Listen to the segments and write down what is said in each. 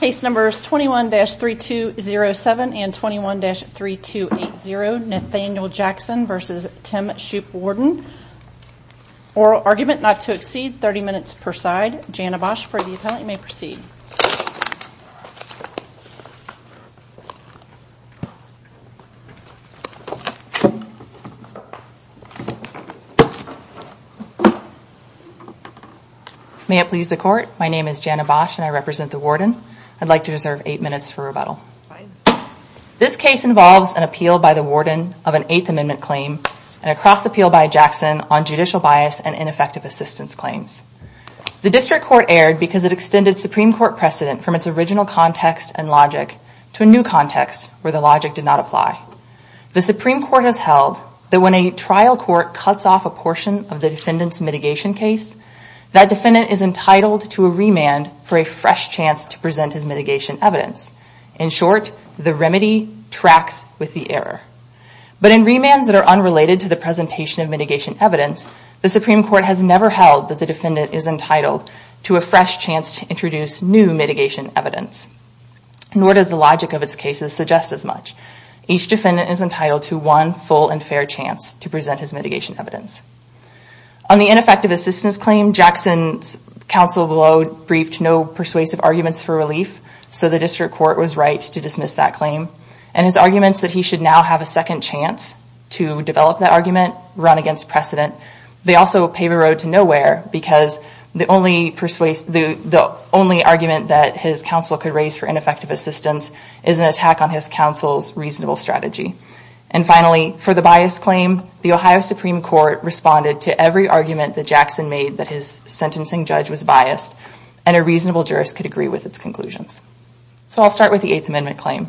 Case numbers 21-3207 and 21-3280, Nathaniel Jackson v. Tim Shoop Warden. Oral argument not to exceed 30 minutes per side. Jana Bosch for the appellant. You may proceed. May it please the court, my name is Jana Bosch and I represent the warden. I'd like to reserve eight minutes for rebuttal. This case involves an appeal by the warden of an Eighth Amendment claim and a cross appeal by Jackson on judicial bias and ineffective assistance claims. The district court erred because it extended Supreme Court precedent from its original context and logic to a new context where the logic did not apply. The Supreme Court has held that when a trial court cuts off a portion of the defendant's mitigation case, that defendant is entitled to a remand for a fresh chance to present his mitigation evidence. In short, the remedy tracks with the error. But in remands that are unrelated to the presentation of mitigation evidence, the Supreme Court has never held that the defendant is entitled to a fresh chance to introduce new mitigation evidence. Nor does the logic of its cases suggest as much. Each defendant is entitled to one full and fair chance to present his mitigation evidence. On the ineffective assistance claim, Jackson's counsel below briefed no persuasive arguments for relief, so the district court was right to dismiss that claim. And his arguments that he should now have a second chance to develop that argument, run against precedent, they also pave a road to nowhere because the only argument that his counsel could raise for ineffective assistance is an attack on his counsel's reasonable strategy. And finally, for the bias claim, the Ohio Supreme Court responded to every argument that Jackson made that his sentencing judge was biased and a reasonable jurist could agree with its conclusions. So I'll start with the Eighth Amendment claim.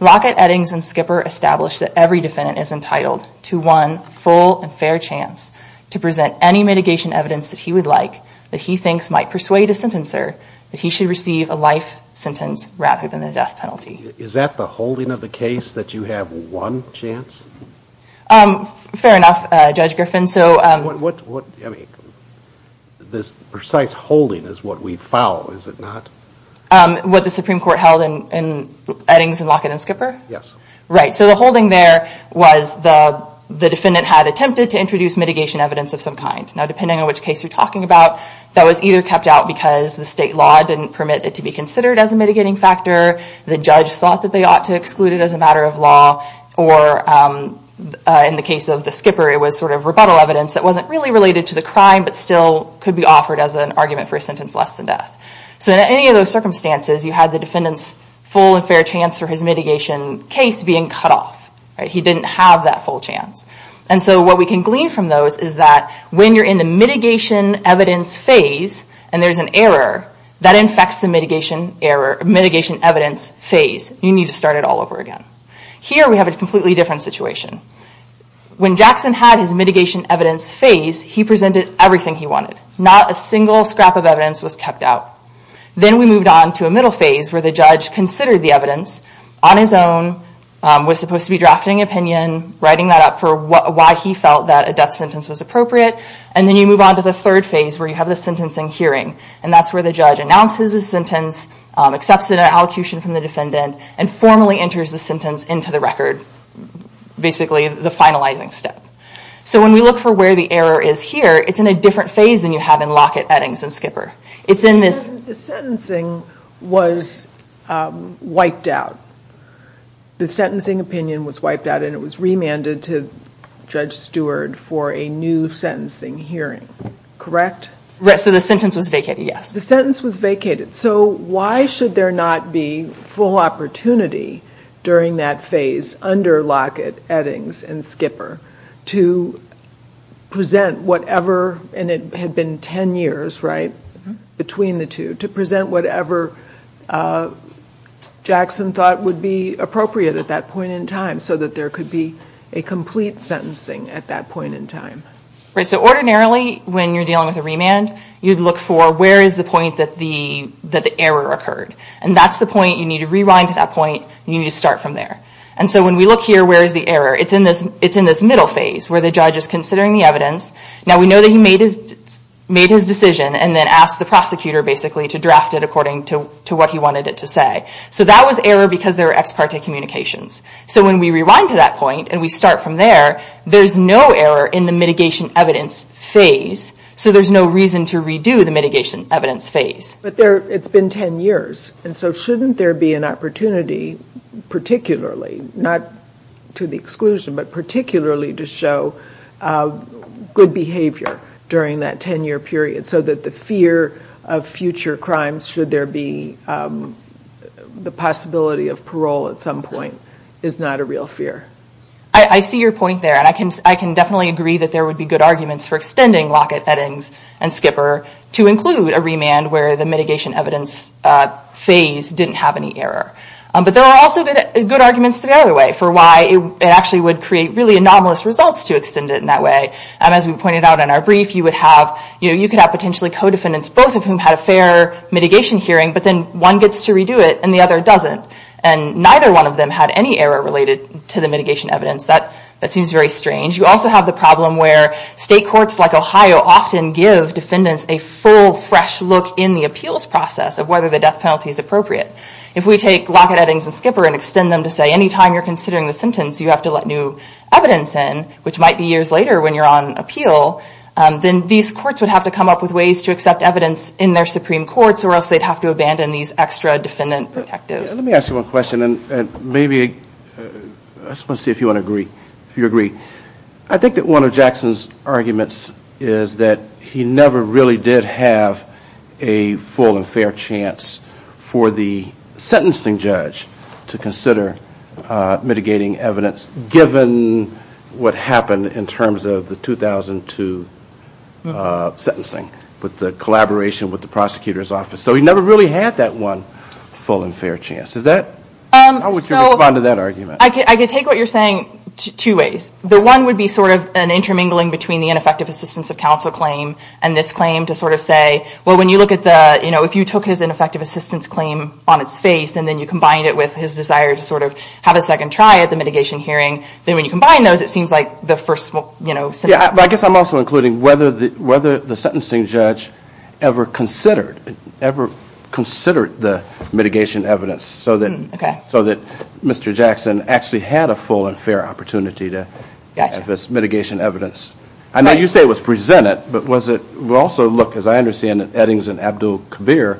Lockett, Eddings, and Skipper established that every defendant is entitled to one full and fair chance to present any mitigation evidence that he would like that he thinks might persuade a sentencer that he should receive a life sentence rather than a death penalty. Is that the holding of the case that you have one chance? Fair enough, Judge Griffin. This precise holding is what we follow, is it not? What the Supreme Court held in Eddings and Lockett and Skipper? Yes. Right, so the holding there was the defendant had attempted to introduce mitigation evidence of some kind. Now depending on which case you're talking about, that was either kept out because the state law didn't permit it to be considered as a mitigating factor, the judge thought that they ought to exclude it as a matter of law, or in the case of the Skipper it was sort of rebuttal evidence that wasn't really related to the crime but still could be offered as an argument for a sentence less than death. So in any of those circumstances you had the defendant's full and fair chance for his mitigation case being cut off. He didn't have that full chance. And so what we can glean from those is that when you're in the mitigation evidence phase and there's an error, that infects the mitigation evidence phase. You need to start it all over again. Here we have a completely different situation. When Jackson had his mitigation evidence phase, he presented everything he wanted. Not a single scrap of evidence was kept out. Then we moved on to a middle phase where the judge considered the evidence on his own, was supposed to be drafting an opinion, writing that up for why he felt that a death sentence was appropriate, and then you move on to the third phase where you have the sentencing hearing. And that's where the judge announces his sentence, accepts an allocution from the defendant, and formally enters the sentence into the record. Basically the finalizing step. So when we look for where the error is here, it's in a different phase than you have in Lockett, Eddings, and Skipper. It's in this... The sentencing was wiped out. The sentencing opinion was wiped out and it was remanded to Judge Stewart for a new sentencing hearing. Correct? Right, so the sentence was vacated, yes. The sentence was vacated. So why should there not be full opportunity during that phase under Lockett, Eddings, and Skipper to present whatever, and it had been 10 years, right, between the two, to present whatever Jackson thought would be appropriate at that point in time so that there could be a complete sentencing at that point in time? Right, so ordinarily when you're dealing with a remand, you'd look for where is the point that the error occurred. And that's the point you need to rewind to that point and you need to start from there. And so when we look here, where is the error? It's in this middle phase where the judge is considering the evidence. Now we know that he made his decision and then asked the prosecutor basically to draft it according to what he wanted it to say. So that was error because there were ex parte communications. So when we rewind to that point and we start from there, there's no error in the mitigation evidence phase, so there's no reason to redo the mitigation evidence phase. But it's been 10 years, and so shouldn't there be an opportunity particularly, not to the exclusion, but particularly to show good behavior during that 10-year period so that the fear of future crimes, should there be the possibility of parole at some point, is not a real fear? I see your point there, and I can definitely agree that there would be good arguments for extending Lockett, Eddings, and Skipper to include a remand where the mitigation evidence phase didn't have any error. But there are also good arguments the other way for why it actually would create really anomalous results to extend it in that way. As we pointed out in our brief, you could have potentially co-defendants, both of whom had a fair mitigation hearing, but then one gets to redo it and the other doesn't. And neither one of them had any error related to the mitigation evidence. That seems very strange. You also have the problem where state courts like Ohio often give defendants a full, fresh look in the appeals process of whether the death penalty is appropriate. If we take Lockett, Eddings, and Skipper and extend them to say, anytime you're considering the sentence, you have to let new evidence in, which might be years later when you're on appeal, then these courts would have to come up with ways to accept evidence in their Supreme Courts or else they'd have to abandon these extra defendant protectives. Let me ask you one question, and I just want to see if you agree. I think that one of Jackson's arguments is that he never really did have a full and fair chance for the sentencing judge to consider mitigating evidence, given what happened in terms of the 2002 sentencing with the collaboration with the prosecutor's office. So he never really had that one full and fair chance. How would you respond to that argument? I could take what you're saying two ways. The one would be sort of an intermingling between the ineffective assistance of counsel claim and this claim to sort of say, well, when you look at the, you know, if you took his ineffective assistance claim on its face and then you combined it with his desire to sort of have a second try at the mitigation hearing, then when you combine those, it seems like the first, you know, scenario. Yeah, but I guess I'm also including whether the sentencing judge ever considered, ever considered the mitigation evidence so that Mr. Jackson actually had a full and fair opportunity to have this mitigation evidence. I know you say it was presented, but was it also, look, as I understand it, Eddings and Abdul-Kabir,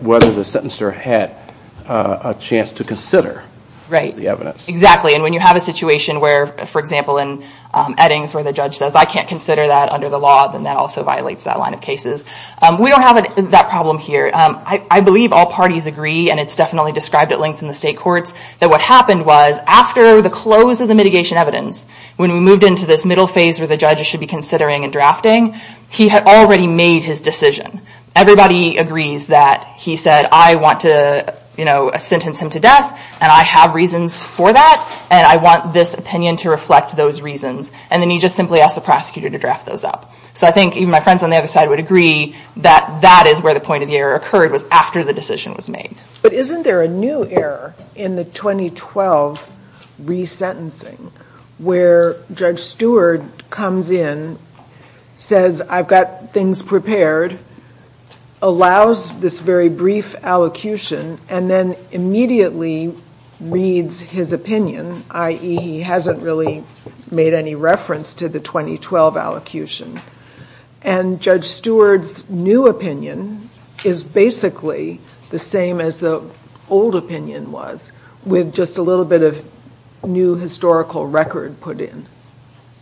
whether the sentencer had a chance to consider the evidence. Right, exactly. And when you have a situation where, for example, in Eddings where the judge says, I can't consider that under the law, then that also violates that line of cases. We don't have that problem here. I believe all parties agree, and it's definitely described at length in the state courts, that what happened was, after the close of the mitigation evidence, when we moved into this middle phase where the judges should be considering and drafting, he had already made his decision. Everybody agrees that he said, I want to, you know, sentence him to death and I have reasons for that and I want this opinion to reflect those reasons. And then you just simply ask the prosecutor to draft those up. So I think even my friends on the other side would agree that that is where the point of the error occurred was after the decision was made. But isn't there a new error in the 2012 resentencing where Judge Stewart comes in, says, I've got things prepared, allows this very brief allocution, and then immediately reads his opinion, i.e. he hasn't really made any reference to the 2012 allocution. And Judge Stewart's new opinion is basically the same as the old opinion was, with just a little bit of new historical record put in.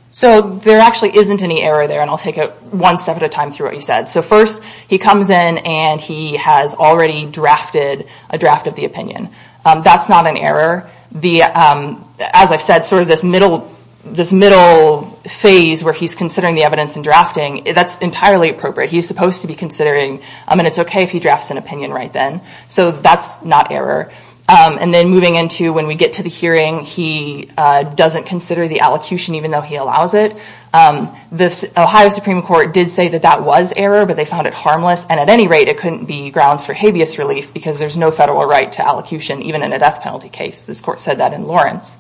So there actually isn't any error there, and I'll take it one step at a time through what you said. So first, he comes in and he has already drafted a draft of the opinion. That's not an error. As I've said, sort of this middle phase where he's considering the evidence and drafting, that's entirely appropriate. He's supposed to be considering, and it's okay if he drafts an opinion right then. So that's not error. And then moving into when we get to the hearing, he doesn't consider the allocution even though he allows it. The Ohio Supreme Court did say that that was error, but they found it harmless. And at any rate, it couldn't be grounds for habeas relief because there's no federal right to allocution, even in a death penalty case. This court said that in Lawrence.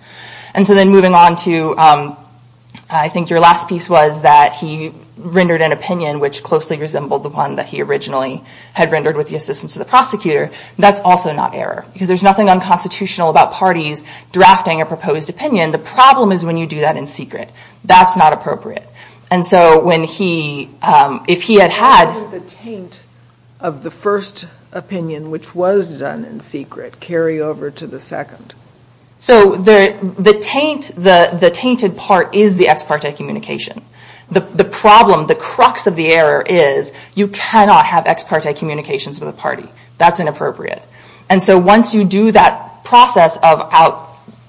And so then moving on to, I think your last piece was that he rendered an opinion which closely resembled the one that he originally had rendered with the assistance of the prosecutor. That's also not error because there's nothing unconstitutional about parties drafting a proposed opinion. The problem is when you do that in secret. That's not appropriate. And so when he, if he had had... Why didn't the taint of the first opinion, which was done in secret, carry over to the second? So the tainted part is the ex parte communication. The problem, the crux of the error is you cannot have ex parte communications with a party. That's inappropriate. And so once you do that process of,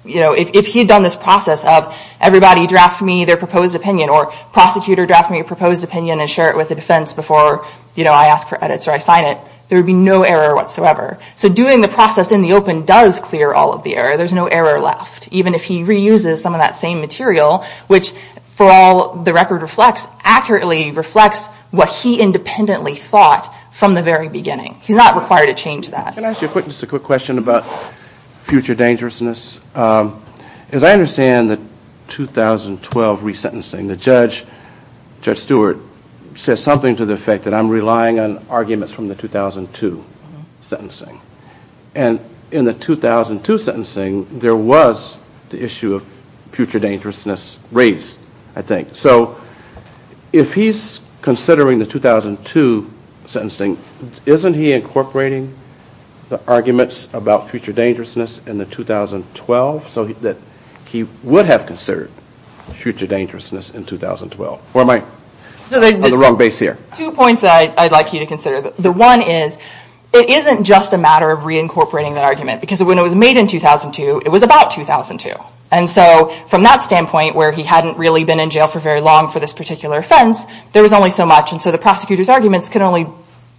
if he had done this process of everybody draft me their proposed opinion or prosecutor draft me a proposed opinion and share it with the defense before I ask for edits or I sign it, there would be no error whatsoever. So doing the process in the open does clear all of the error. There's no error left. Even if he reuses some of that same material, which for all the record reflects, accurately reflects what he independently thought from the very beginning. He's not required to change that. Can I ask you a quick, just a quick question about future dangerousness? As I understand the 2012 resentencing, the judge, Judge Stewart, says something to the effect that I'm relying on arguments from the 2002 sentencing. And in the 2002 sentencing, there was the issue of future dangerousness raised, I think. So if he's considering the 2002 sentencing, isn't he incorporating the arguments about future dangerousness in the 2012 so that he would have considered future dangerousness in 2012? Or am I on the wrong base here? There are two points I'd like you to consider. The one is, it isn't just a matter of reincorporating that argument. Because when it was made in 2002, it was about 2002. And so from that standpoint, where he hadn't really been in jail for very long for this particular offense, there was only so much. And so the prosecutor's arguments can only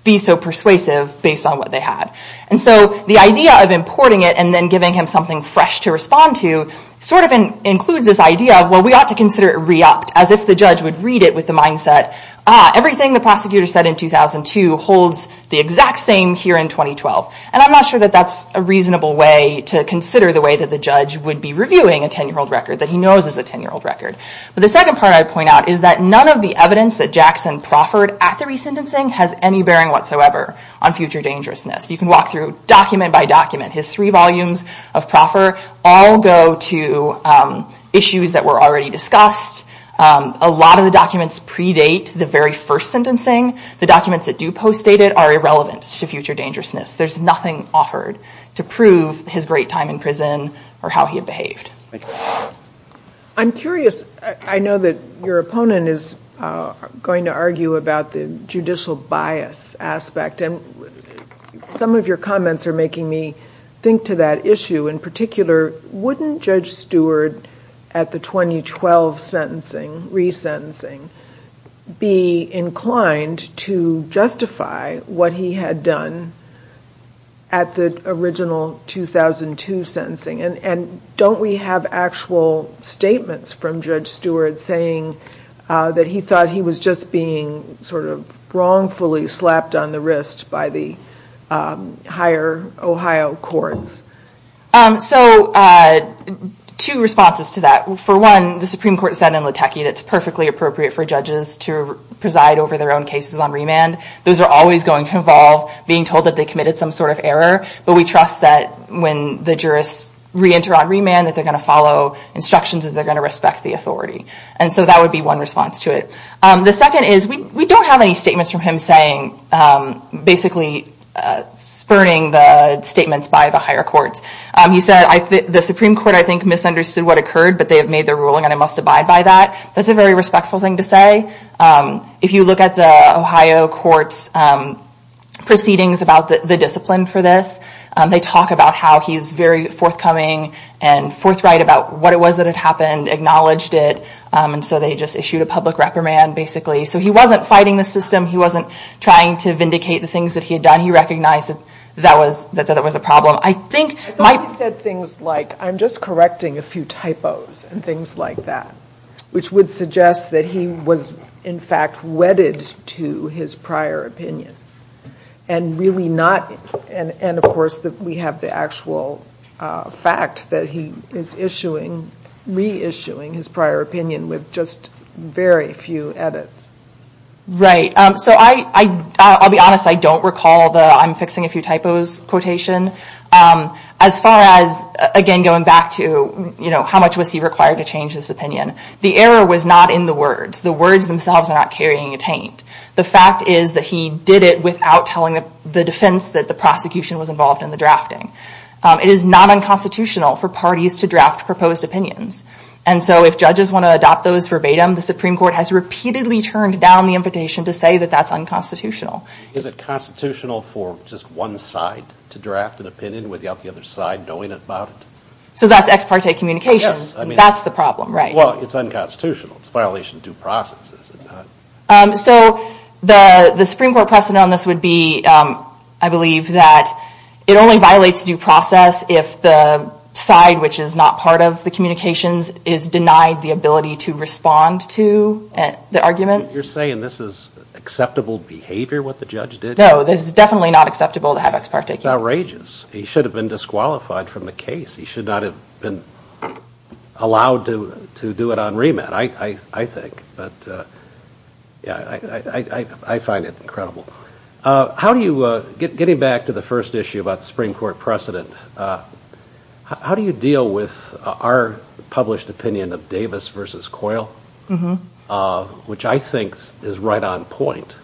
be so persuasive based on what they had. And so the idea of importing it and then giving him something fresh to respond to sort of includes this idea of, well, we ought to consider it re-upped. As if the judge would read it with the mindset, ah, everything the prosecutor said in 2002 holds the exact same here in 2012. And I'm not sure that that's a reasonable way to consider the way that the judge would be reviewing a 10-year-old record that he knows is a 10-year-old record. But the second part I'd point out is that none of the evidence that Jackson proffered at the re-sentencing has any bearing whatsoever on future dangerousness. You can walk through document by document. His three volumes of proffer all go to issues that were already discussed. A lot of the documents predate the very first sentencing. The documents that do post-date it are irrelevant to future dangerousness. There's nothing offered to prove his great time in prison or how he had behaved. Thank you. I'm curious. I know that your opponent is going to argue about the judicial bias aspect. And some of your comments are making me think to that issue. In particular, wouldn't Judge Stewart, at the 2012 sentencing, re-sentencing, be inclined to justify what he had done at the original 2002 sentencing? And don't we have actual statements from Judge Stewart saying that he thought he was just being sort of wrongfully slapped on the wrist by the higher Ohio courts? So, two responses to that. For one, the Supreme Court said in Latecki that it's perfectly appropriate for judges to preside over their own cases on remand. Those are always going to involve being told that they committed some sort of error. But we trust that when the jurists re-enter on remand that they're going to follow instructions and they're going to respect the authority. And so that would be one response to it. The second is, we don't have any statements from him saying, basically, spurning the statements by the higher courts. He said, the Supreme Court, I think, misunderstood what occurred, but they have made their ruling and I must abide by that. That's a very respectful thing to say. If you look at the Ohio courts proceedings about the discipline for this, they talk about how he's very forthcoming and forthright about what it was that had happened, acknowledged it, and so they just issued a public reprimand, basically. So he wasn't fighting the system. He wasn't trying to vindicate the things that he had done. He recognized that that was a problem. I think my... He said things like, I'm just correcting a few typos and things like that, which would suggest that he was, in fact, wedded to his prior opinion and really not... And, of course, we have the actual fact that he is re-issuing his prior opinion with just very few edits. Right. So I'll be honest. I don't recall the I'm fixing a few typos quotation. As far as, again, going back to how much was he required to change his opinion, the error was not in the words. The words themselves are not carrying a taint. The fact is that he did it without telling the defense that the prosecution was involved in the drafting. It is not unconstitutional for parties to draft proposed opinions. And so if judges want to adopt those verbatim, the Supreme Court has repeatedly turned down the invitation to say that that's unconstitutional. Is it constitutional for just one side to draft an opinion without the other side knowing about it? So that's ex parte communications. That's the problem, right. Well, it's unconstitutional. It's a violation of due process, is it not? So the Supreme Court precedent on this would be, I believe, that it only violates due process if the side which is not part of the communications is denied the ability to respond to the arguments. You're saying this is acceptable behavior, what the judge did? No, this is definitely not acceptable to have ex parte communications. Outrageous. He should have been disqualified from the case. He should not have been allowed to do it on remand, I think. But yeah, I find it incredible. Getting back to the first issue about the Supreme Court precedent, how do you deal with our published opinion of Davis versus Coyle, which I think is right on point.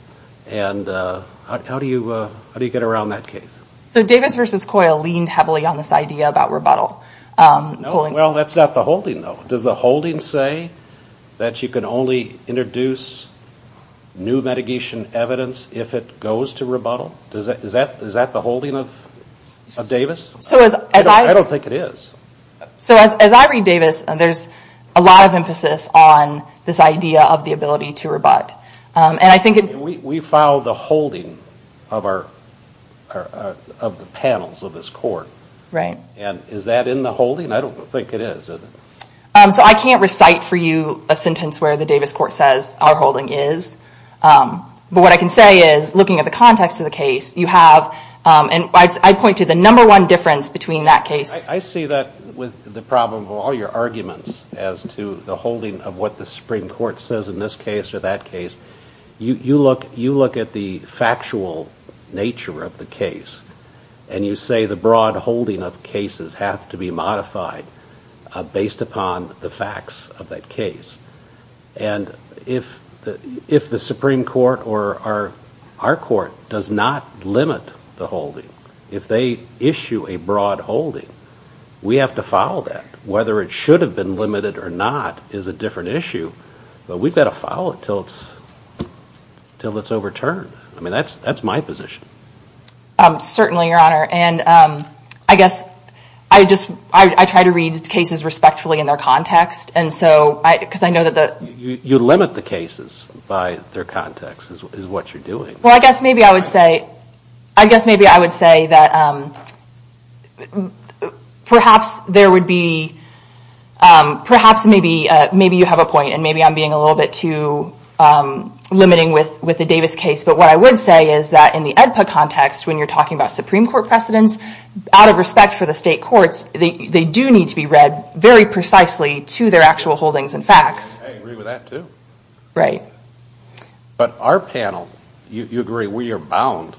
And how do you get around that case? So Davis versus Coyle leaned heavily on this idea about rebuttal. Well, that's not the holding, though. Does the holding say that you can only introduce new mitigation evidence if it goes to rebuttal? Is that the holding of Davis? I don't think it is. So as I read Davis, there's a lot of emphasis on this idea of the ability to rebut. We filed the holding of the panels of this court. Right. And is that in the holding? I don't think it is, is it? So I can't recite for you a sentence where the Davis court says our holding is. But what I can say is, looking at the context of the case, you have, and I point to the number one difference between that case. I see that with the problem of all your arguments as to the holding of what the Supreme Court says in this case or that case. You look at the factual nature of the case, and you say the broad holding of cases have to be modified based upon the facts of that case. And if the Supreme Court or our court does not limit the holding, if they issue a broad holding, we have to follow that. Whether it should have been limited or not is a different issue. But we've got to follow it till it's overturned. I mean, that's my position. Certainly, Your Honor. And I guess I just, I try to read cases respectfully in their context. And so, because I know that the. You limit the cases by their context is what you're doing. Well, I guess maybe I would say, I guess maybe I would say that perhaps there would be, perhaps maybe you have a point. And maybe I'm being a little bit too limiting with the Davis case. But what I would say is that in the AEDPA context, when you're talking about Supreme Court precedents, out of respect for the state courts, they do need to be read very precisely to their actual holdings and facts. I agree with that, too. Right. But our panel, you agree we are bound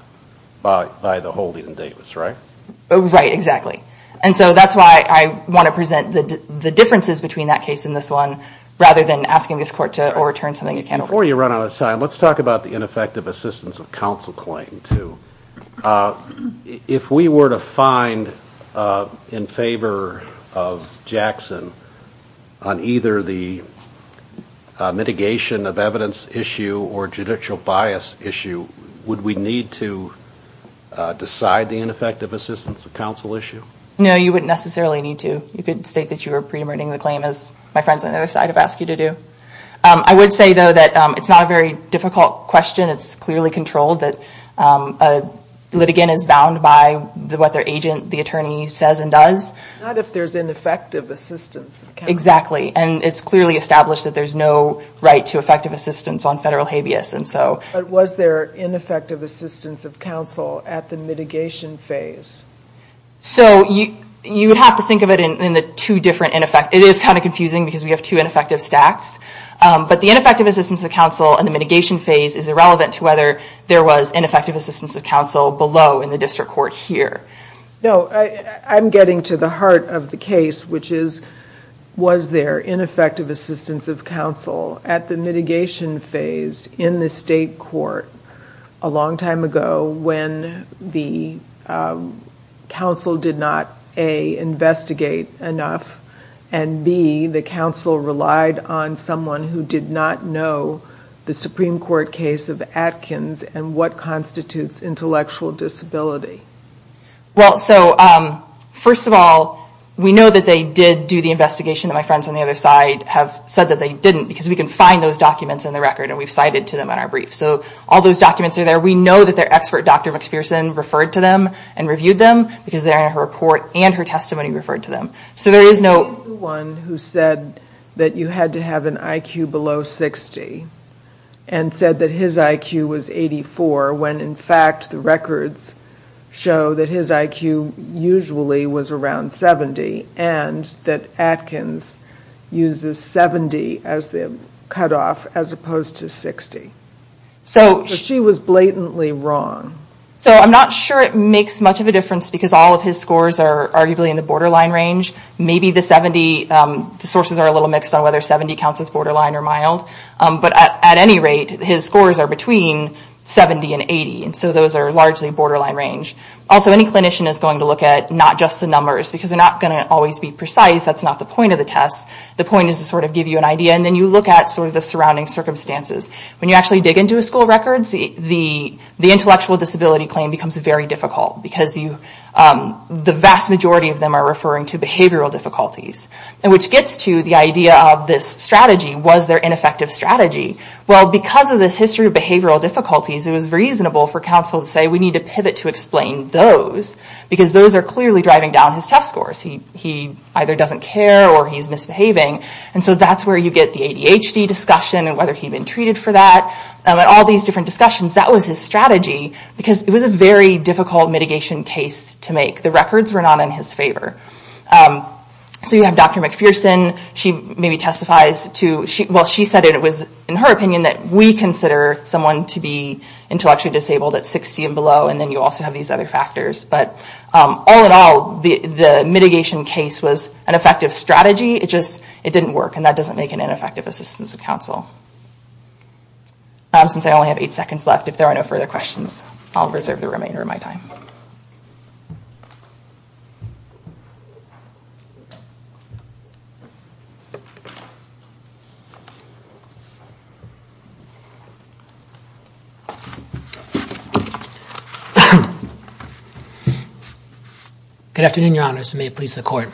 by the holding in Davis, right? Right. Exactly. And so that's why I want to present the differences between that case and this one rather than asking this court to overturn something you can't overturn. Before you run out of time, let's talk about the ineffective assistance of counsel claim, too. If we were to find in favor of Jackson on either the mitigation of evidence issue or judicial bias issue, would we need to decide the ineffective assistance of counsel issue? No, you wouldn't necessarily need to. You could state that you were pre-emerging the claim as my friends on the other side have asked you to do. I would say, though, that it's not a very difficult question. It's clearly controlled, that a litigant is bound by what their agent, the attorney, says and does. Not if there's ineffective assistance of counsel. Exactly. And it's clearly established that there's no right to effective assistance on federal habeas. But was there ineffective assistance of counsel at the mitigation phase? So you would have to think of it in the two different ineffective, it is kind of confusing because we have two ineffective stacks. But the ineffective assistance of counsel in the mitigation phase is irrelevant to whether there was ineffective assistance of counsel below in the district court here. No, I'm getting to the heart of the case, which is, was there ineffective assistance of counsel at the mitigation phase in the state court a long time ago when the counsel did not A, investigate enough, and B, the counsel relied on someone who did not know the Supreme Court case of Atkins and what constitutes intellectual disability? Well, so first of all, we know that they did do the investigation that my friends on the other side have said that they didn't because we can find those documents in the record and we've cited to them in our brief. So all those documents are there. We know that their expert, Dr. McPherson, referred to them and reviewed them because they're in her report and her testimony referred to them. So there is no... He's the one who said that you had to have an IQ below 60 and said that his IQ was 84 when in fact the records show that his IQ usually was around 70 and that Atkins uses 70 as the cutoff as opposed to 60. So she was blatantly wrong. So I'm not sure it makes much of a difference because all of his scores are arguably in the borderline range. Maybe the 70, the sources are a little mixed on whether 70 counts as borderline or mild. But at any rate, his scores are between 70 and 80 and so those are largely borderline range. Also, any clinician is going to look at not just the numbers because they're not going to always be precise. That's not the point of the test. The point is to sort of give you an idea and then you look at sort of the surrounding circumstances. When you actually dig into a school record, the intellectual disability claim becomes very difficult because the vast majority of them are referring to behavioral difficulties, which gets to the idea of this strategy. Was there ineffective strategy? Well, because of this history of behavioral difficulties, it was reasonable for counsel to say we need to pivot to explain those because those are clearly driving down his test scores. He either doesn't care or he's misbehaving and so that's where you get the ADHD discussion and whether he'd been treated for that. All these different discussions, that was his strategy because it was a very difficult mitigation case to make. The records were not in his favor. So you have Dr. McPherson. She maybe testifies to... Well, she said it was in her opinion that we consider someone to be intellectually disabled at 60 and below and then you also have these other factors. But all in all, the mitigation case was an effective strategy. It just didn't work and that doesn't make an ineffective assistance of counsel. Since I only have eight seconds left, if there are no further questions, I'll reserve the remainder of my time. Good afternoon, Your Honors. May it please the Court.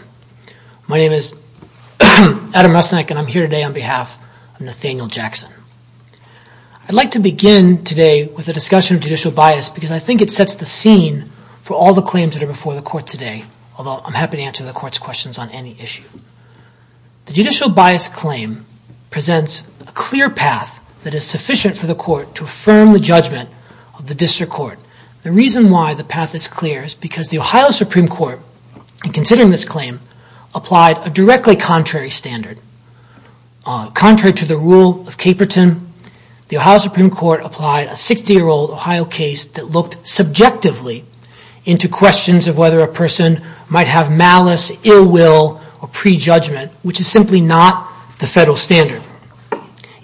My name is Adam Rusnak and I'm here today on behalf of Nathaniel Jackson. I'd like to begin today with a discussion of judicial bias because I think it sets the scene for all the claims that are before the Court today, although I'm happy to answer the Court's questions on any issue. The judicial bias claim presents a clear path that is sufficient for the Court to affirm the judgment of the District Court. The reason why the path is clear is because the Ohio Supreme Court, in considering this claim, applied a directly contrary standard. Contrary to the rule of Caperton, the Ohio Supreme Court applied a 60-year-old Ohio case that looked subjectively into questions of whether a person might have malice, ill will, or prejudgment, which is simply not the federal standard.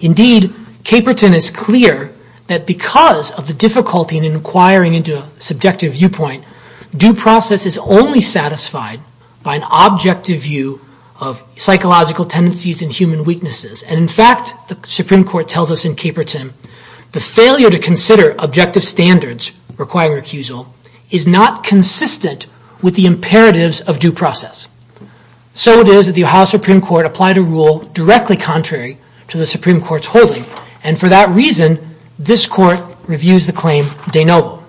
Indeed, Caperton is clear that because of the difficulty in inquiring into a subjective viewpoint, due process is only satisfied by an objective view of psychological tendencies and human weaknesses. And in fact, the Supreme Court tells us in Caperton, the failure to consider objective standards requiring recusal is not consistent with the imperatives of due process. So it is that the Ohio Supreme Court applied a rule directly contrary to the Supreme Court's holding. And for that reason, this Court reviews the claim de novo.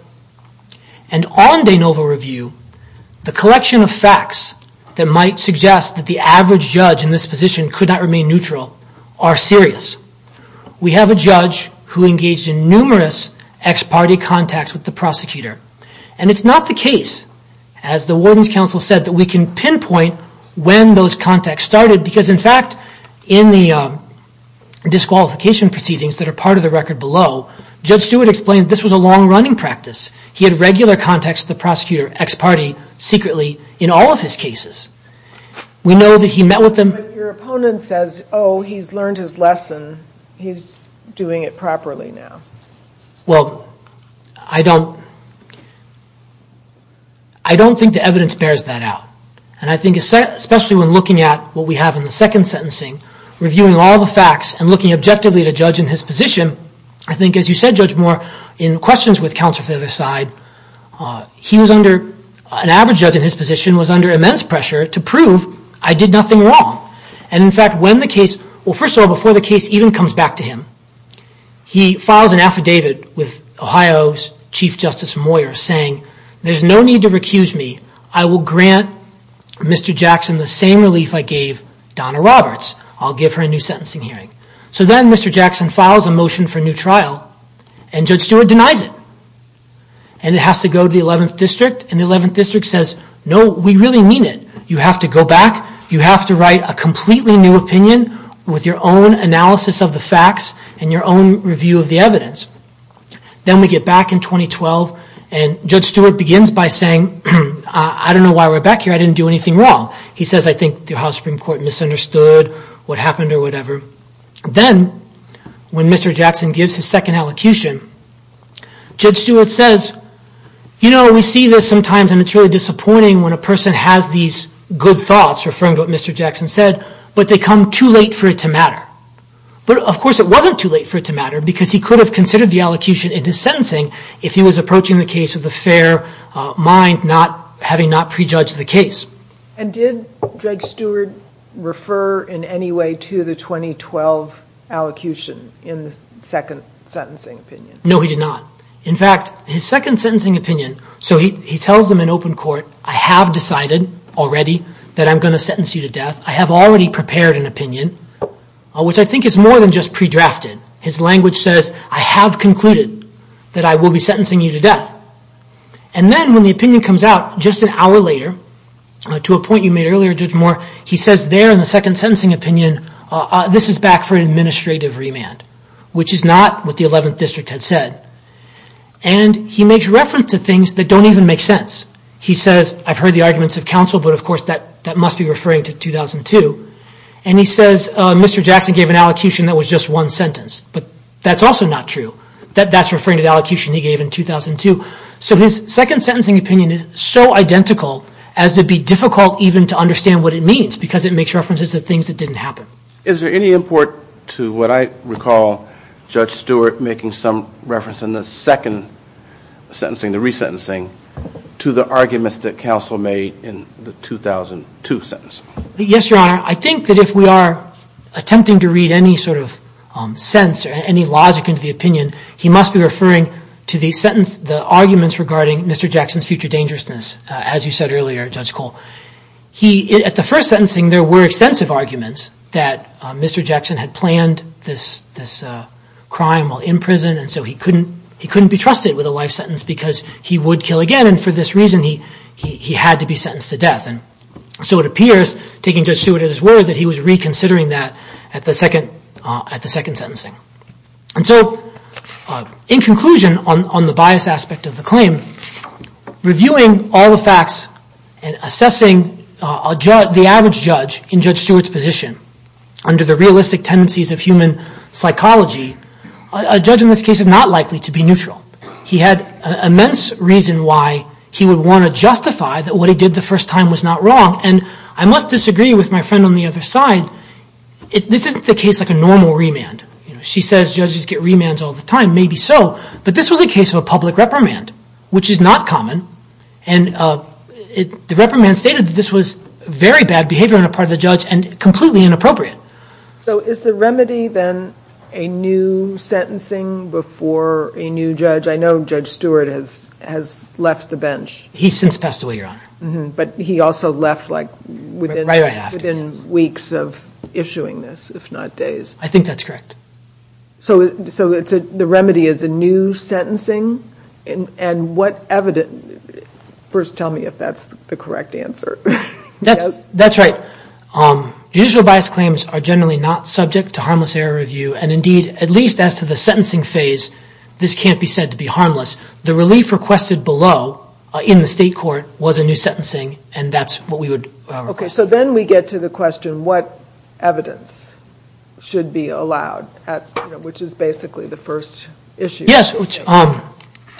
And on de novo review, the collection of facts that might suggest that the average judge in this position could not remain neutral are serious. We have a judge who engaged in numerous ex-party contacts with the prosecutor. And it's not the case, as the Warden's Council said, that we can pinpoint when those contacts started. Because in fact, in the disqualification proceedings that are part of the record below, Judge Stewart explained this was a long-running practice. He had regular contacts with the prosecutor ex-party secretly in all of his cases. We know that he met with them... But your opponent says, oh, he's learned his lesson. He's doing it properly now. Well, I don't... I don't think the evidence bears that out. And I think especially when looking at what we have in the second sentencing, reviewing all the facts and looking objectively at a judge in his position, I think, as you said, Judge Moore, in questions with counsel from the other side, he was under... An average judge in his position was under immense pressure to prove I did nothing wrong. And in fact, when the case... Well, first of all, before the case even comes back to him, he files an affidavit with Ohio's Chief Justice Moyer saying there's no need to recuse me. I will grant Mr. Jackson the same relief I gave Donna Roberts. I'll give her a new sentencing hearing. So then Mr. Jackson files a motion for a new trial and Judge Stewart denies it. And it has to go to the 11th District and the 11th District says, no, we really mean it. You have to go back. You have to write a completely new opinion with your own analysis of the facts and your own review of the evidence. Then we get back in 2012 and Judge Stewart begins by saying, I don't know why we're back here. I didn't do anything wrong. He says, I think the House Supreme Court misunderstood what happened or whatever. Then, when Mr. Jackson gives his second elocution, Judge Stewart says, you know, we see this sometimes and it's really disappointing when a person has these good thoughts referring to what Mr. Jackson said, but they come too late for it to matter. But of course it wasn't too late for it to matter because he could have considered the elocution in his sentencing if he was approaching the case with a fair mind, having not prejudged the case. And did Judge Stewart refer in any way to the 2012 elocution in the second sentencing opinion? No, he did not. In fact, his second sentencing opinion, so he tells them in open court, I have decided already that I'm going to sentence you to death. I have already prepared an opinion, which I think is more than just pre-drafted. His language says, I have concluded that I will be sentencing you to death. And then when the opinion comes out just an hour later, to a point you made earlier, Judge Moore, he says there in the second sentencing opinion, this is back for an administrative remand, which is not what the 11th District had said. And he makes reference to things that don't even make sense. He says, I've heard the arguments of counsel, but of course that must be referring to 2002. And he says, Mr. Jackson gave an elocution that was just one sentence, but that's also not true. That's referring to the elocution he gave in 2002. So his second sentencing opinion is so identical as to be difficult even to understand what it means, because it makes references to things that didn't happen. Is there any import to what I recall Judge Stewart making some reference in the second sentencing, the resentencing, to the arguments that counsel made in the 2002 sentence? Yes, Your Honor. I think that if we are attempting to read any sort of sense or any logic into the opinion, he must be referring to the arguments regarding Mr. Jackson's future dangerousness, as you said earlier, Judge Cole. At the first sentencing, there were extensive arguments that Mr. Jackson had planned this crime while in prison, and so he couldn't be trusted with a life sentence because he would kill again, and for this reason he had to be sentenced to death. So it appears, taking Judge Stewart at his word, that he was reconsidering that at the second sentencing. And so, in conclusion, on the bias aspect of the claim, reviewing all the facts and assessing the average judge in Judge Stewart's position under the realistic tendencies of human psychology, a judge in this case is not likely to be neutral. He had immense reason why he would want to justify that what he did the first time was not wrong, and I must disagree with my friend on the other side. This isn't the case like a normal remand. She says judges get remands all the time, maybe so, but this was a case of a public reprimand, which is not common, and the reprimand stated that this was very bad behavior on the part of the judge and completely inappropriate. So is the remedy then a new sentencing before a new judge? I know Judge Stewart has left the bench. He's since passed away, Your Honor. But he also left within weeks of issuing this, if not days. I think that's correct. So the remedy is a new sentencing? And what evidence... First tell me if that's the correct answer. That's right. Judicial bias claims are generally not subject to harmless error review, and indeed, at least as to the sentencing phase, this can't be said to be harmless. The relief requested below in the state court was a new sentencing, and that's what we would request. So then we get to the question, what evidence should be allowed, which is basically the first issue.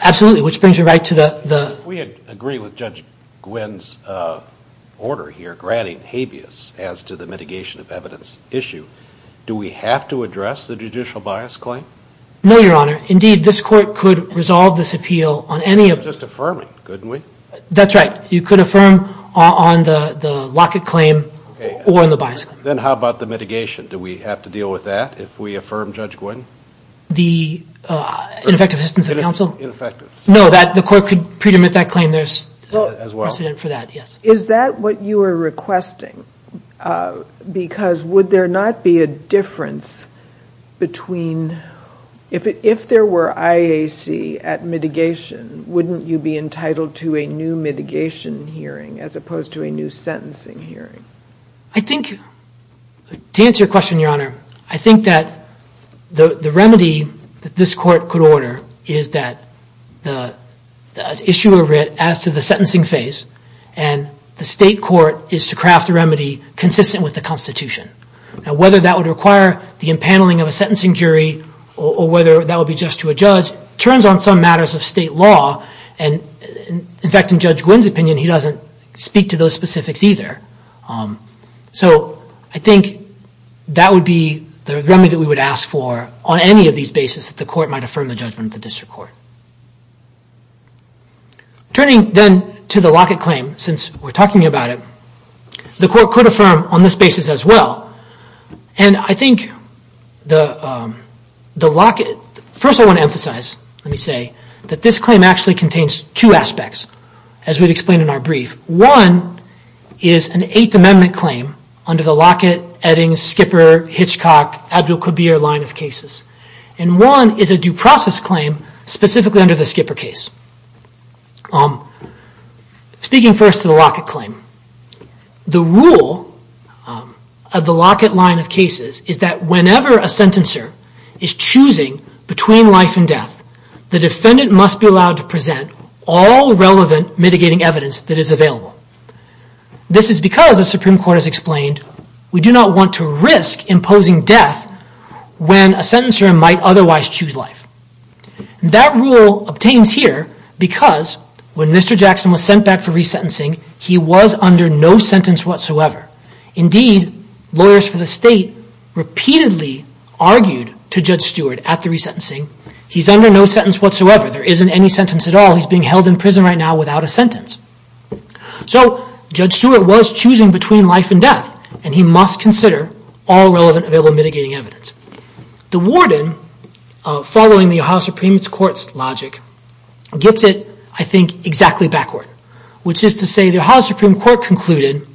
Absolutely. Which brings me right to the... If we agree with Judge Gwynne's order here granting habeas as to the mitigation of evidence issue, do we have to address the judicial bias claim? No, Your Honor. Indeed, this court could resolve this appeal on any of... Just affirming, couldn't we? That's right. You could affirm on the locket claim or on the bias claim. Then how about the mitigation? Do we have to deal with that if we affirm Judge Gwynne? The ineffective assistance of counsel? No, the court could pre-demit that claim. There's precedent for that, yes. Is that what you were requesting? Because would there not be a difference between... If there were IAC at mitigation, wouldn't you be entitled to a new mitigation hearing as opposed to a new sentencing hearing? I think... To answer your question, Your Honor, I think that the remedy that this court could order is that the issue of writ as to the sentencing phase and the state court is to craft a remedy consistent with the Constitution. Now, whether that would require the impaneling of a sentencing jury or whether that would be just to a judge turns on some matters of state law and, in fact, in Judge Gwynne's opinion, he doesn't speak to those specifics either. So I think that would be the remedy that we would ask for on any of these bases that the court might affirm the judgment of the district court. Turning then to the Lockett claim, since we're talking about it, the court could affirm on this basis as well and I think the Lockett... First, I want to emphasize, let me say, that this claim actually contains two aspects, as we've explained in our brief. One is an Eighth Amendment claim under the Lockett, Eddings, Skipper, Hitchcock, Abdul-Kabir line of cases and one is a due process claim specifically under the Skipper case. Speaking first to the Lockett claim, the rule of the Lockett line of cases is that whenever a sentencer is choosing between life and death, the defendant must be allowed to present all relevant mitigating evidence that is available. This is because, as the Supreme Court has explained, we do not want to risk imposing death when a sentencer might otherwise choose life. That rule obtains here because when Mr. Jackson was sent back for resentencing, he was under no sentence whatsoever. Indeed, lawyers for the state repeatedly argued to Judge Stewart at the resentencing, he's under no sentence whatsoever. There isn't any sentence at all. He's being held in prison right now without a sentence. So, Judge Stewart was choosing between life and death and he must consider all relevant available mitigating evidence. The warden, following the Ohio Supreme Court's logic, gets it, I think, exactly backward, which is to say the Ohio Supreme Court concluded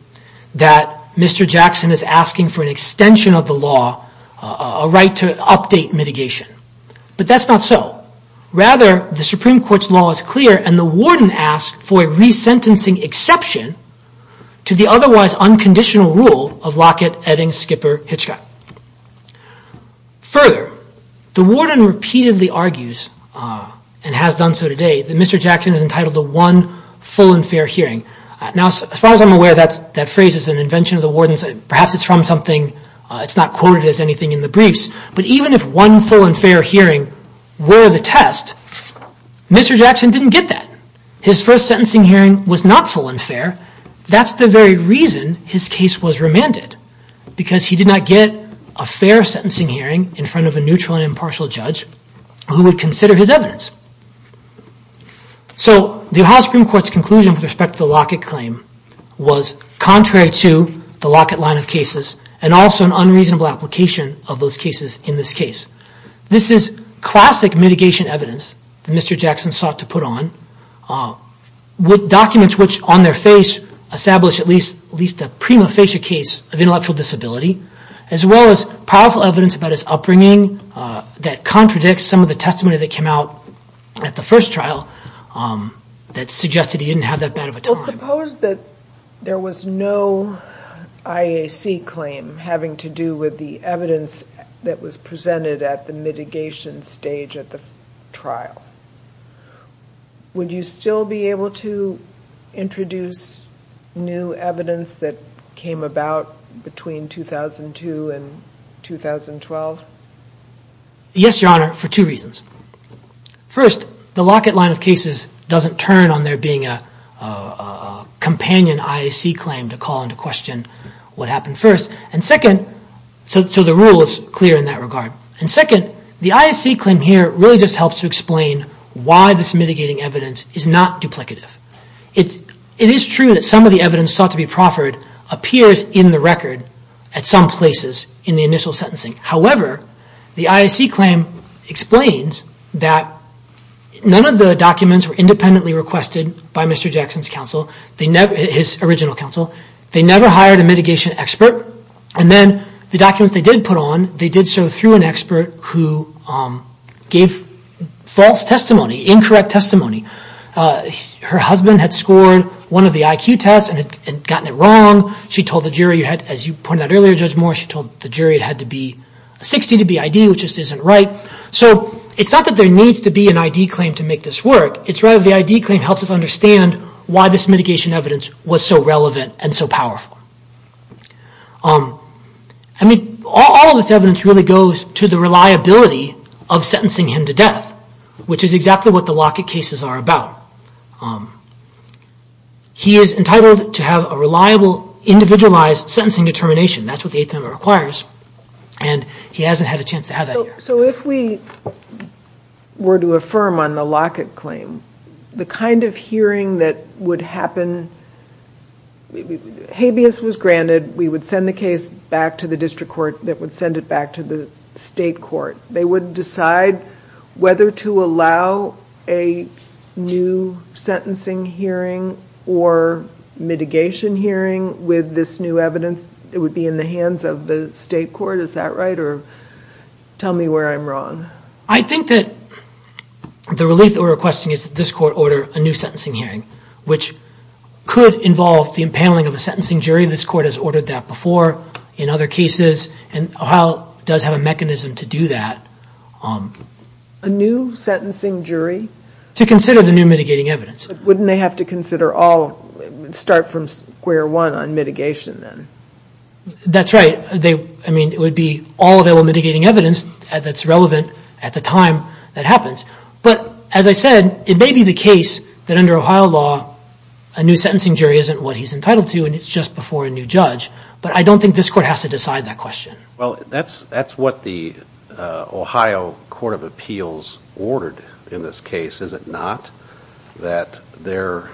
that Mr. Jackson is asking for an extension of the law, a right to update mitigation. But that's not so. Rather, the Supreme Court's law is clear and the warden asks for a resentencing exception to the otherwise unconditional rule of Lockett, Eddings, Skipper, Hitchcock. Further, the warden repeatedly argues and has done so today that Mr. Jackson is entitled to one full and fair hearing. Now, as far as I'm aware, that phrase is an invention of the warden's, perhaps it's from something, it's not quoted as anything in the briefs, but even if one full and fair hearing were the test, Mr. Jackson didn't get that. His first sentencing hearing was not full and fair. That's the very reason his case was remanded because he did not get a fair sentencing hearing in front of a neutral and impartial judge who would consider his evidence. So the Ohio Supreme Court's conclusion with respect to the Lockett claim was contrary to the Lockett line of cases and also an unreasonable application of those cases in this case. This is classic mitigation evidence that Mr. Jackson sought to put on with documents which, on their face, establish at least a prima facie case of intellectual disability as well as powerful evidence about his upbringing that contradicts some of the testimony that came out at the first trial that suggested he didn't have that bad of a time. Well, suppose that there was no IAC claim having to do with the evidence that was presented at the mitigation stage at the trial. Would you still be able to introduce new evidence that came about between 2002 and 2012? Yes, Your Honor, for two reasons. First, the Lockett line of cases doesn't turn on there being a companion IAC claim to call into question what happened first. And second, so the rule is clear in that regard. And second, the IAC claim here really just helps to explain why this mitigating evidence is not duplicative. It is true that some of the evidence sought to be proffered appears in the record at some places in the initial sentencing. However, the IAC claim explains that none of the documents were independently requested by Mr. Jackson's counsel, his original counsel. They never hired a mitigation expert. And then the documents they did put on, they did so through an expert who gave false testimony, incorrect testimony. Her husband had scored one of the IQ tests and had gotten it wrong. She told the jury, as you pointed out earlier, Judge Moore, she told the jury it had to be 60 to be ID, which just isn't right. So it's not that there needs to be an ID claim to make this work. It's rather the ID claim helps us understand why this mitigation evidence was so relevant and so powerful. I mean, all of this evidence really goes to the reliability of sentencing him to death, which is exactly what the Lockett cases are about. He is entitled to have a reliable, individualized sentencing determination. That's what the Eighth Amendment requires. And he hasn't had a chance to have that here. So if we were to affirm on the Lockett claim, the kind of hearing that would happen, habeas was granted, we would send the case back to the district court that would send it back to the state court. They would decide whether to allow a new sentencing hearing or mitigation hearing with this new evidence. It would be in the hands of the state court. Is that right? Or tell me where I'm wrong. I think that the relief that we're requesting is that this court order a new sentencing hearing, which could involve the impaling of a sentencing jury. This court has ordered that before in other cases. And Ohio does have a mechanism to do that. A new sentencing jury? To consider the new mitigating evidence. But wouldn't they have to consider all, start from square one on mitigation then? That's right. I mean, it would be all available mitigating evidence that's relevant at the time that happens. But as I said, it may be the case that under Ohio law, a new sentencing jury isn't what he's entitled to and it's just before a new judge. But I don't think this court has to decide that question. Well, that's what the Ohio Court of Appeals ordered in this case, is it not? That their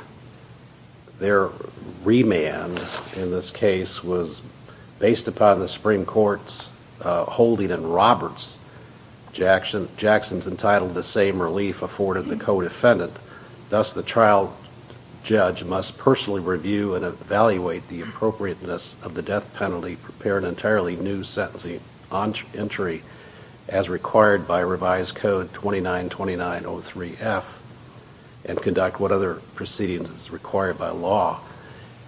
remand in this case was based upon the Supreme Court's holding in Roberts. Jackson's entitled the same relief afforded the co-defendant. Thus, the trial judge must personally review and evaluate the appropriateness of the death penalty to prepare an entirely new sentencing entry as required by revised code 2929.03F and conduct what other proceedings as required by law.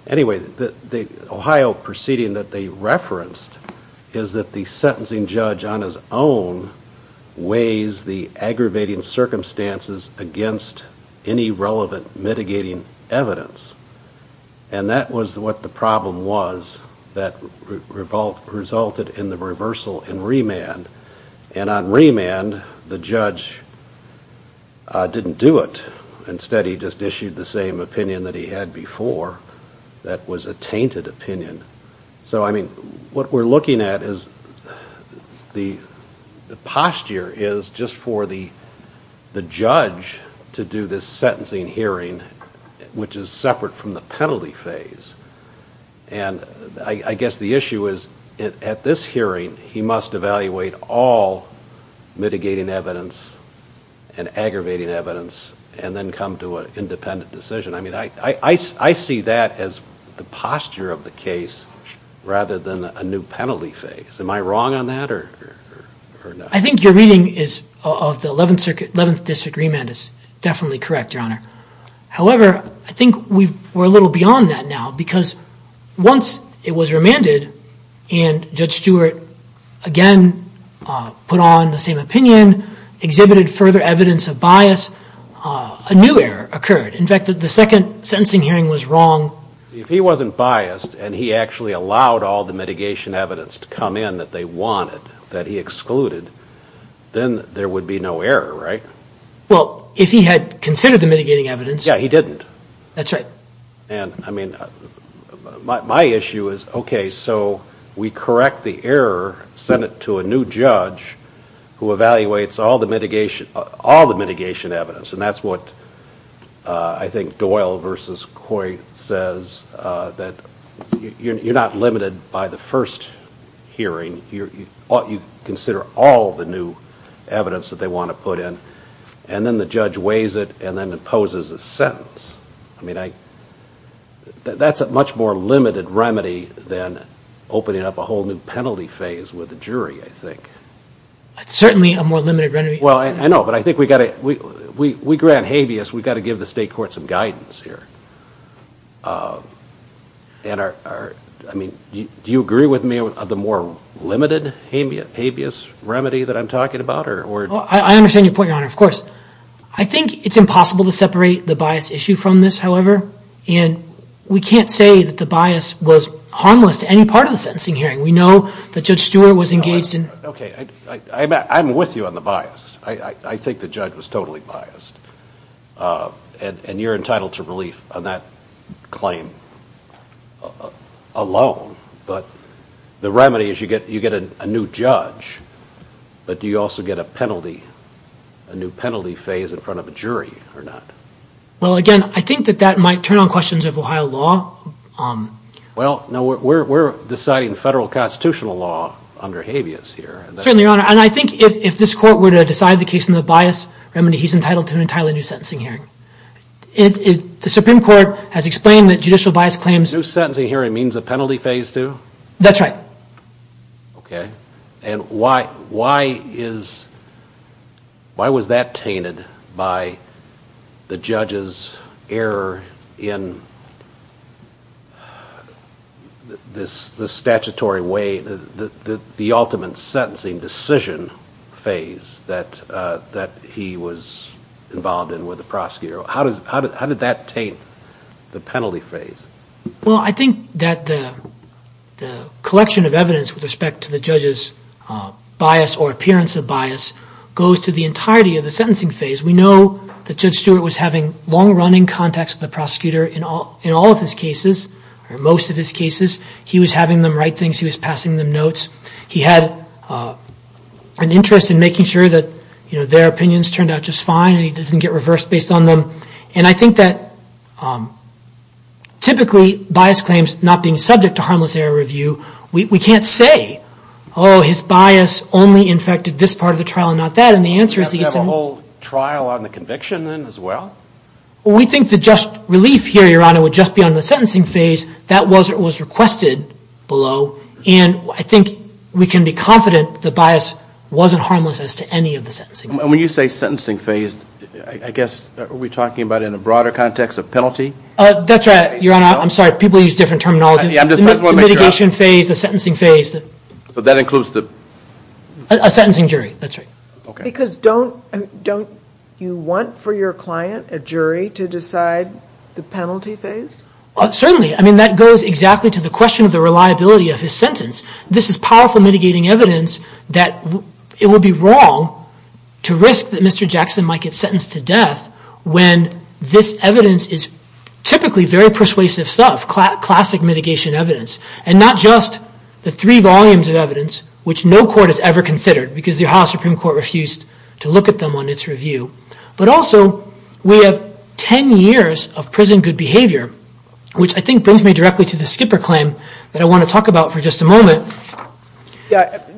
Anyway, the Ohio proceeding that they referenced is that the sentencing judge on his own weighs the aggravating circumstances against any relevant mitigating evidence. And that was what the problem was that resulted in the reversal in remand. And on remand, the judge didn't do it. Instead, he just issued the same opinion that he had before that was a tainted opinion. So, I mean, what we're looking at is the posture is just for the judge to do this sentencing hearing which is separate from the penalty phase. And I guess the issue is at this hearing, he must evaluate all mitigating evidence and aggravating evidence and then come to an independent decision. I mean, I see that as the posture of the case rather than a new penalty phase. Am I wrong on that or not? I think your reading of the 11th district remand is definitely correct, Your Honor. However, I think we're a little beyond that now because once it was remanded and Judge Stewart again put on the same opinion, exhibited further evidence of bias, a new error occurred. In fact, the second sentencing hearing was wrong. If he wasn't biased and he actually allowed all the mitigation evidence to come in that they wanted, that he excluded, then there would be no error, right? Well, if he had considered the mitigating evidence... Yeah, he didn't. That's right. And, I mean, my issue is, okay, so we correct the error, send it to a new judge who evaluates all the mitigation, all the mitigation evidence. And that's what I think Doyle versus Coy says that you're not limited by the first hearing. You consider all the new evidence that they want to put in. And then the judge weighs it and then imposes a sentence. I mean, I... That's a much more limited remedy than opening up a whole new penalty phase with the jury, I think. It's certainly a more limited remedy. Well, I know, but I think we've got to... We grant habeas. We've got to give the state court some guidance here. And our... I mean, do you agree with me of the more limited habeas remedy that I'm talking about? Or... I understand your point, Your Honor. Of course. I think it's impossible to separate the bias issue from this, however. And we can't say that the bias was harmless to any part of the sentencing hearing. We know that Judge Stewart was engaged in... Okay, I'm with you on the bias. I think the judge was totally biased. And you're entitled to relief on that claim alone. But the remedy is you get a new judge. But do you also get a penalty, a new penalty phase in front of a jury or not? Well, again, I think that that might turn on questions of Ohio law. Well, no, we're deciding federal constitutional law under habeas here. Certainly, Your Honor. And I think if this court were to decide the case in the bias remedy, he's entitled to an entirely new sentencing hearing. The Supreme Court has explained that judicial bias claims... New sentencing hearing means a penalty phase too? That's right. Okay. And why is... Why was that tainted by the judge's error in this statutory way, the ultimate sentencing decision phase that he was involved in with the prosecutor? How did that taint the penalty phase? Well, I think that the collection of evidence with respect to the judge's bias or appearance of bias goes to the entirety of the sentencing phase. We know that Judge Stewart was having long-running contacts with the prosecutor in all of his cases, or most of his cases. He was having them write things. He was passing them notes. He had an interest in making sure that their opinions turned out just fine and he doesn't get reversed based on them. And I think that typically bias claims not being subject to harmless error review, we can't say, oh, his bias only infected this part of the trial and not that. And the answer is... Does he have to have a whole trial on the conviction then as well? We think the just relief here, would just be on the sentencing phase. That was requested below. And I think we can be confident the bias wasn't harmless as to any of the sentencing. And when you say sentencing phase, I guess, are we talking about in a broader context of penalty? That's right, Your Honor. I'm sorry, people use different terminology. The mitigation phase, the sentencing phase. So that includes the... A sentencing jury, that's right. Because don't you want for your client, a jury, to decide the penalty phase? Certainly. I mean, that goes exactly to the question of the reliability of his sentence. This is powerful mitigating evidence that it would be wrong to risk that Mr. Jackson might get sentenced to death when this evidence is typically very persuasive stuff, classic mitigation evidence. And not just the three volumes of evidence, which no court has ever considered because the Ohio Supreme Court refused to look at them on its review. But also, we have 10 years of prison good behavior, which I think brings me directly to the Skipper claim that I want to talk about for just a moment.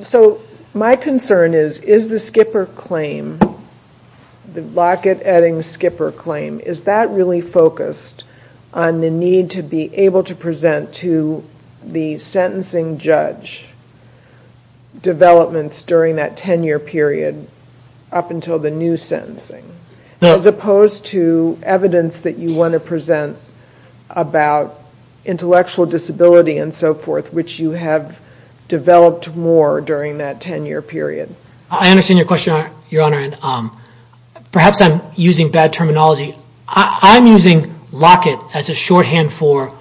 So, my concern is, is the Skipper claim, the Lockett-Eddings-Skipper claim, is that really focused on the need to be able to present to the sentencing judge developments during that 10-year period up until the new sentencing? As opposed to evidence that you want to present about intellectual disability and so forth, which you have developed more during that 10-year period? I understand your question, Your Honor, and perhaps I'm using bad terminology. I'm using Lockett as a shorthand for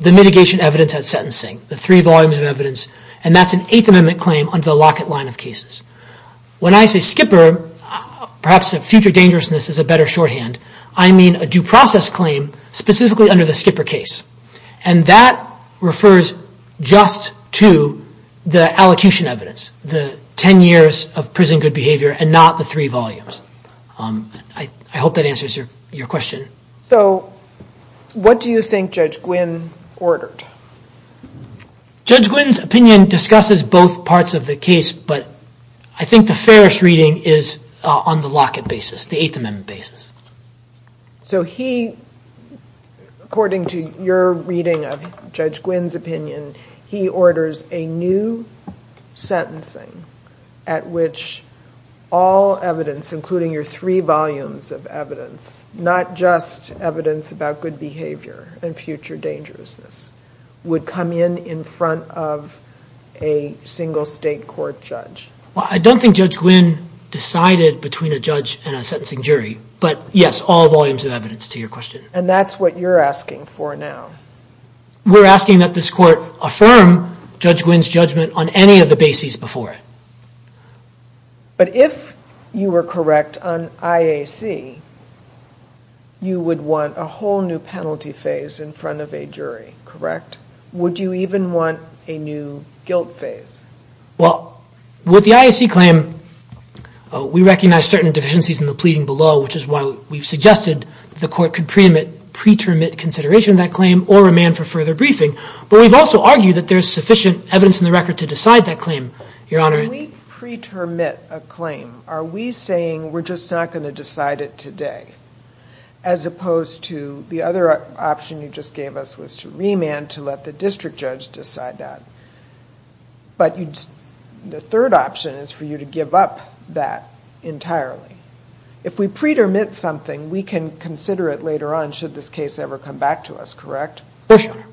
the mitigation evidence at sentencing, the three volumes of evidence. And that's an Eighth Amendment claim under the Lockett line of cases. When I say Skipper, perhaps a future dangerousness is a better shorthand. I mean a due process claim specifically under the Skipper case. And that refers just to the allocution evidence, the 10 years of prison good behavior, and not the three volumes. I hope that answers your question. So what do you think Judge Gwynne ordered? Judge Gwynne's opinion discusses both parts of the case, but I think the fairest reading is on the Lockett basis, the Eighth Amendment basis. So he, according to your reading of Judge Gwynne's opinion, he orders a new sentencing at which all evidence, including your three volumes of evidence, not just evidence about good behavior and future dangerousness, would come in in front of a single state court judge. Well, I don't think Judge Gwynne decided between a judge and a sentencing jury, but yes, all volumes of evidence to your question. And that's what you're asking for now. We're asking that this court affirm Judge Gwynne's judgment on any of the bases before it. But if you were correct on IAC, you would want a whole new penalty phase in front of a jury, correct? Would you even want a new guilt phase? Well, with the IAC claim, we recognize certain deficiencies in the pleading below, which is why we've suggested the court could pre-termit consideration of that claim or remand for further briefing. But we've also argued that there's sufficient evidence in the record to decide that claim, Your Honor. When we pre-termit a claim, are we saying we're just not going to decide it today? As opposed to the other option you just gave us was to remand to let the district judge decide that. But the third option is for you to give up that entirely. If we pre-termit something, we can consider it later on should this case ever come back to us, correct? For sure.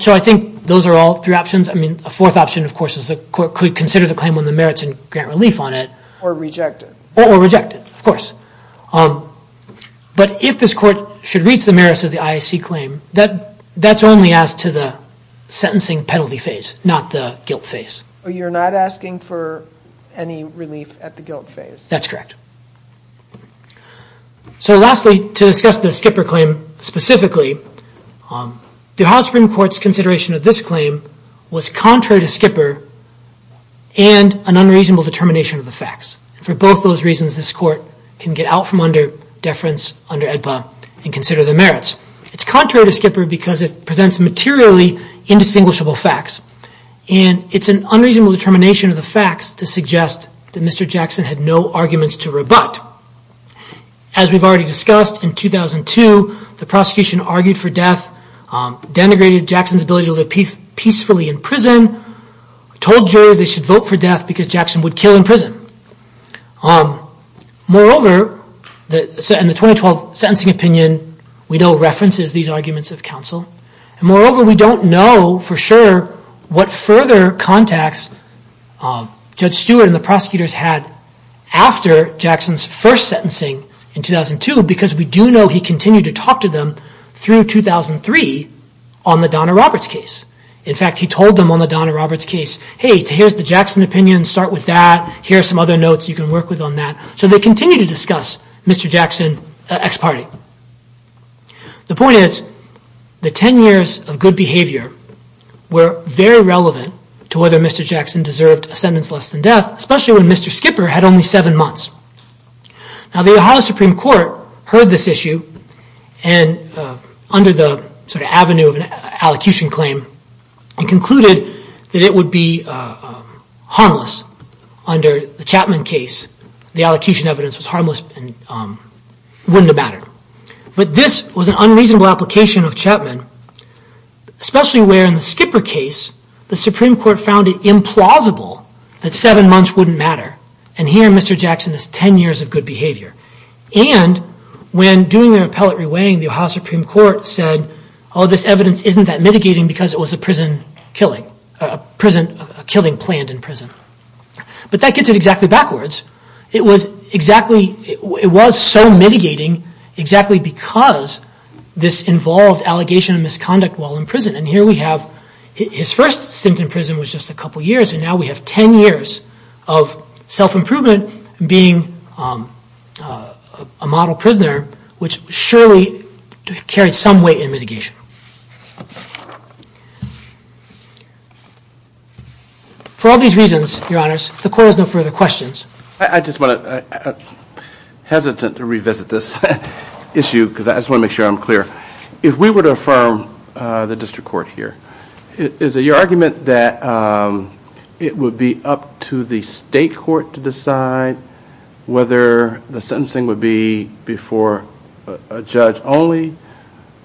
So I think those are all three options. I mean, a fourth option, of course, is the court could consider the claim when the merits and grant relief on it. Or reject it. Or reject it, of course. But if this court should reach the merits of the IAC claim, that's only as to the sentencing penalty phase, not the guilt phase. So you're not asking for any relief at the guilt phase? That's correct. So lastly, to discuss the Skipper claim specifically, the Ohio Supreme Court's consideration of this claim was contrary to Skipper and an unreasonable determination of the facts. For both those reasons, this court can get out from under deference under AEDPA and consider the merits. It's contrary to Skipper because it presents materially indistinguishable facts. And it's an unreasonable determination of the facts to suggest that Mr. Jackson had no arguments to rebut. As we've already discussed, in 2002, the prosecution argued for death, denigrated Jackson's ability to live peacefully in prison, told juries they should vote for death because Jackson would kill in prison. Moreover, in the 2012 sentencing opinion, we know references these arguments of counsel. Moreover, we don't know for sure what further contacts Judge Stewart and the prosecutors had after Jackson's first sentencing in 2002 because we do know he continued to talk to them through 2003 on the Donna Roberts case. In fact, he told them on the Donna Roberts case, hey, here's the Jackson opinion, start with that, here are some other notes you can work with on that. So they continued to discuss Mr. Jackson ex parte. The point is, the 10 years of good behavior were very relevant to whether Mr. Jackson deserved a sentence less than death, especially when Mr. Skipper had only seven months. Now the Ohio Supreme Court heard this issue and under the sort of avenue of an allocution claim, it concluded that it would be harmless under the Chapman case. The allocution evidence was harmless and wouldn't have mattered. But this was an unreasonable application of Chapman, especially where in the Skipper case, the Supreme Court found it implausible that seven months wouldn't matter. And here Mr. Jackson has 10 years of good behavior. And when doing their appellate reweighing, the Ohio Supreme Court said, oh, this evidence isn't that mitigating because it was a prison killing, a prison killing planned in prison. But that gets it exactly backwards. It was exactly, it was so mitigating exactly because this involved allegation of misconduct while in prison. And here we have, his first stint in prison was just a couple years and now we have 10 years of self-improvement being a model prisoner which surely carried some weight in mitigation. For all these reasons, Your Honors, if the Court has no further questions. I just want to, I'm hesitant to revisit this issue because I just want to make sure I'm clear. If we were to affirm the District Court here, is it your argument that it would be up to the State Court to decide whether the sentencing would be before a judge only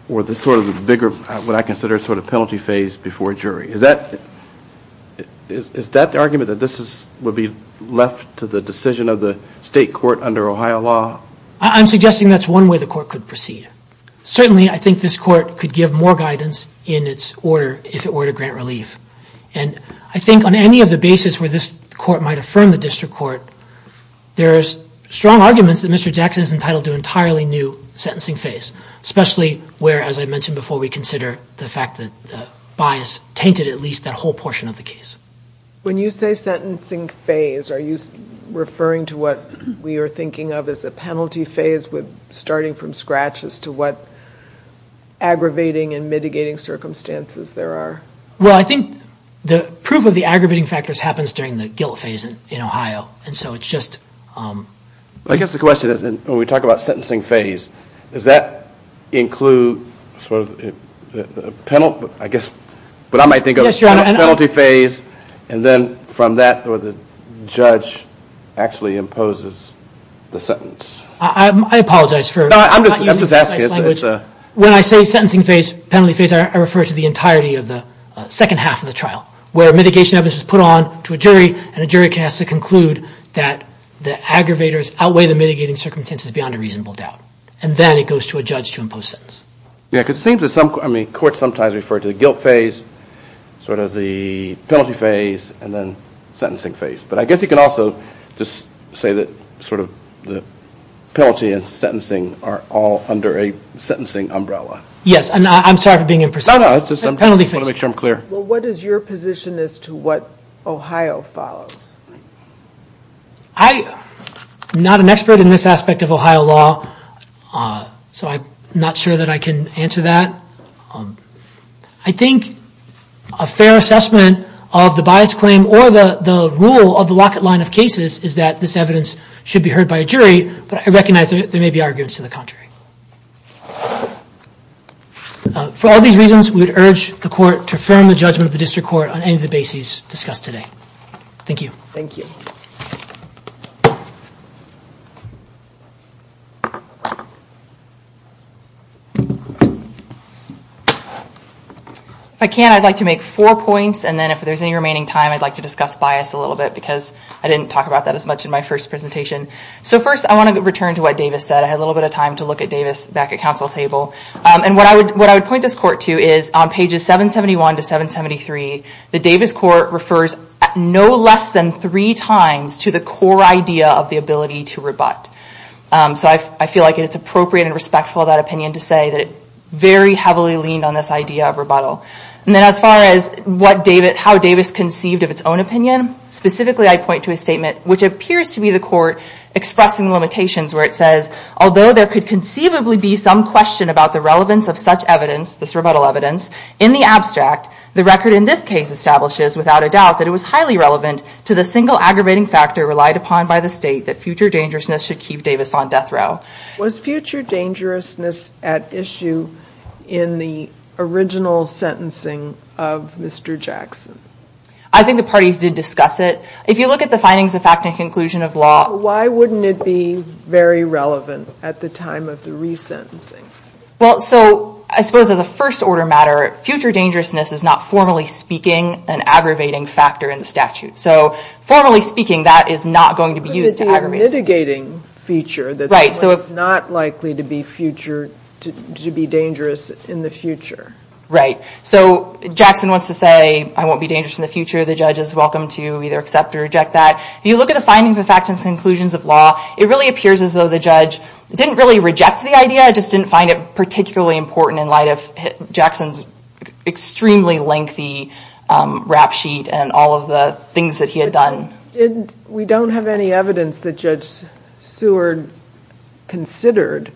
or the sort of bigger, what I consider sort of penalty phase before a jury. Is that the argument that this would be left to the decision of the State Court under Ohio law? I'm suggesting that's one way the Court could proceed. Certainly, I think this Court could give more guidance in its order, if it were to grant relief. And I think on any of the basis where this Court might affirm the District Court, there's strong arguments that Mr. Jackson is entitled to an entirely new sentencing phase. Especially where, as I mentioned before, we consider the fact that the bias tainted at least that whole portion of the case. When you say sentencing phase, are you referring to what we are thinking of as a penalty phase with starting from scratch as to what aggravating and mitigating circumstances there are? Well, I think the proof of the aggravating factors happens during the guilt phase in Ohio. And so it's just... I guess the question is when we talk about sentencing phase, does that include sort of the penalty, I guess, what I might think of as penalty phase and then from that, the judge actually imposes the sentence. I apologize for not using precise language. When I say sentencing phase, penalty phase, I refer to the entirety of the second half of the trial where mitigation evidence is put on to a jury and a jury can ask to conclude that the aggravators outweigh the mitigating circumstances beyond a reasonable doubt. And then it goes to a judge to impose sentence. Yeah, because it seems that some... I mean, courts sometimes refer to the guilt phase, sort of the penalty phase, and then sentencing phase. But I guess you can also just say that sort of the penalty and sentencing are all under a sentencing umbrella. Yes, and I'm sorry for being imprecise. No, no. I just want to make sure I'm clear. Well, what is your position as to what Ohio follows? I'm not an expert in this aspect of Ohio law, so I'm not sure that I can answer that. I think a fair assessment of the bias claim or the rule of the locket line of cases is that this evidence should be heard by a jury, but I recognize there may be arguments to the contrary. For all these reasons, we would urge the court to affirm the judgment of the district court on any of the bases discussed today. Thank you. Thank you. If I can, I'd like to make four points, and then if there's any remaining time, I'd like to discuss bias a little bit because I didn't talk about that as much in my first presentation. So first, I want to return to what Davis said. I had a little bit of time to look at Davis back at council table, and what I would point this court to is on pages 771 to 773, the Davis court refers no less than three times to the core idea of the ability to rebut. So I feel like it's appropriate and respectful of that opinion to say that it very heavily leaned on this idea of rebuttal. And then as far as how Davis conceived of its own opinion, specifically I point to a statement which appears to be the court expressing limitations where it says, although there could conceivably be some question about the relevance of such evidence, this rebuttal evidence, in the abstract, the record in this case establishes without a doubt that it was highly relevant to the single aggravating factor relied upon by the state that future dangerousness should keep Davis on death row. Was future dangerousness at issue in the original sentencing of Mr. Jackson? I think the parties did discuss it. If you look at the findings of fact and conclusion of law, why wouldn't it be very relevant at the time of the resentencing? Well, so I suppose as a first order matter, future dangerousness is not formally speaking an aggravating factor in the statute. So formally speaking, that is not going to be used to aggravate the sentence. But it would be a mitigating feature that's not likely to be future, to be dangerous in the future. Right. So Jackson wants to say, I won't be dangerous in the future. The judge is welcome to either accept or reject that. If you look at the findings of fact and conclusions of law, it really appears as though the judge didn't really reject the idea, just didn't find it particularly important in light of Jackson's extremely lengthy rap sheet and all of the things that he had done. We don't have any evidence that Judge Seward considered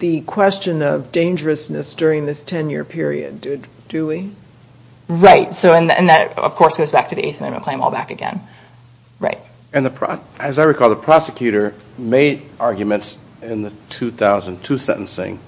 the question of dangerousness during this 10-year period, do we? Right. And that, of course, goes back to the Eighth Amendment claim all back again. Right. As I recall, the prosecutor made arguments in the 2002 sentencing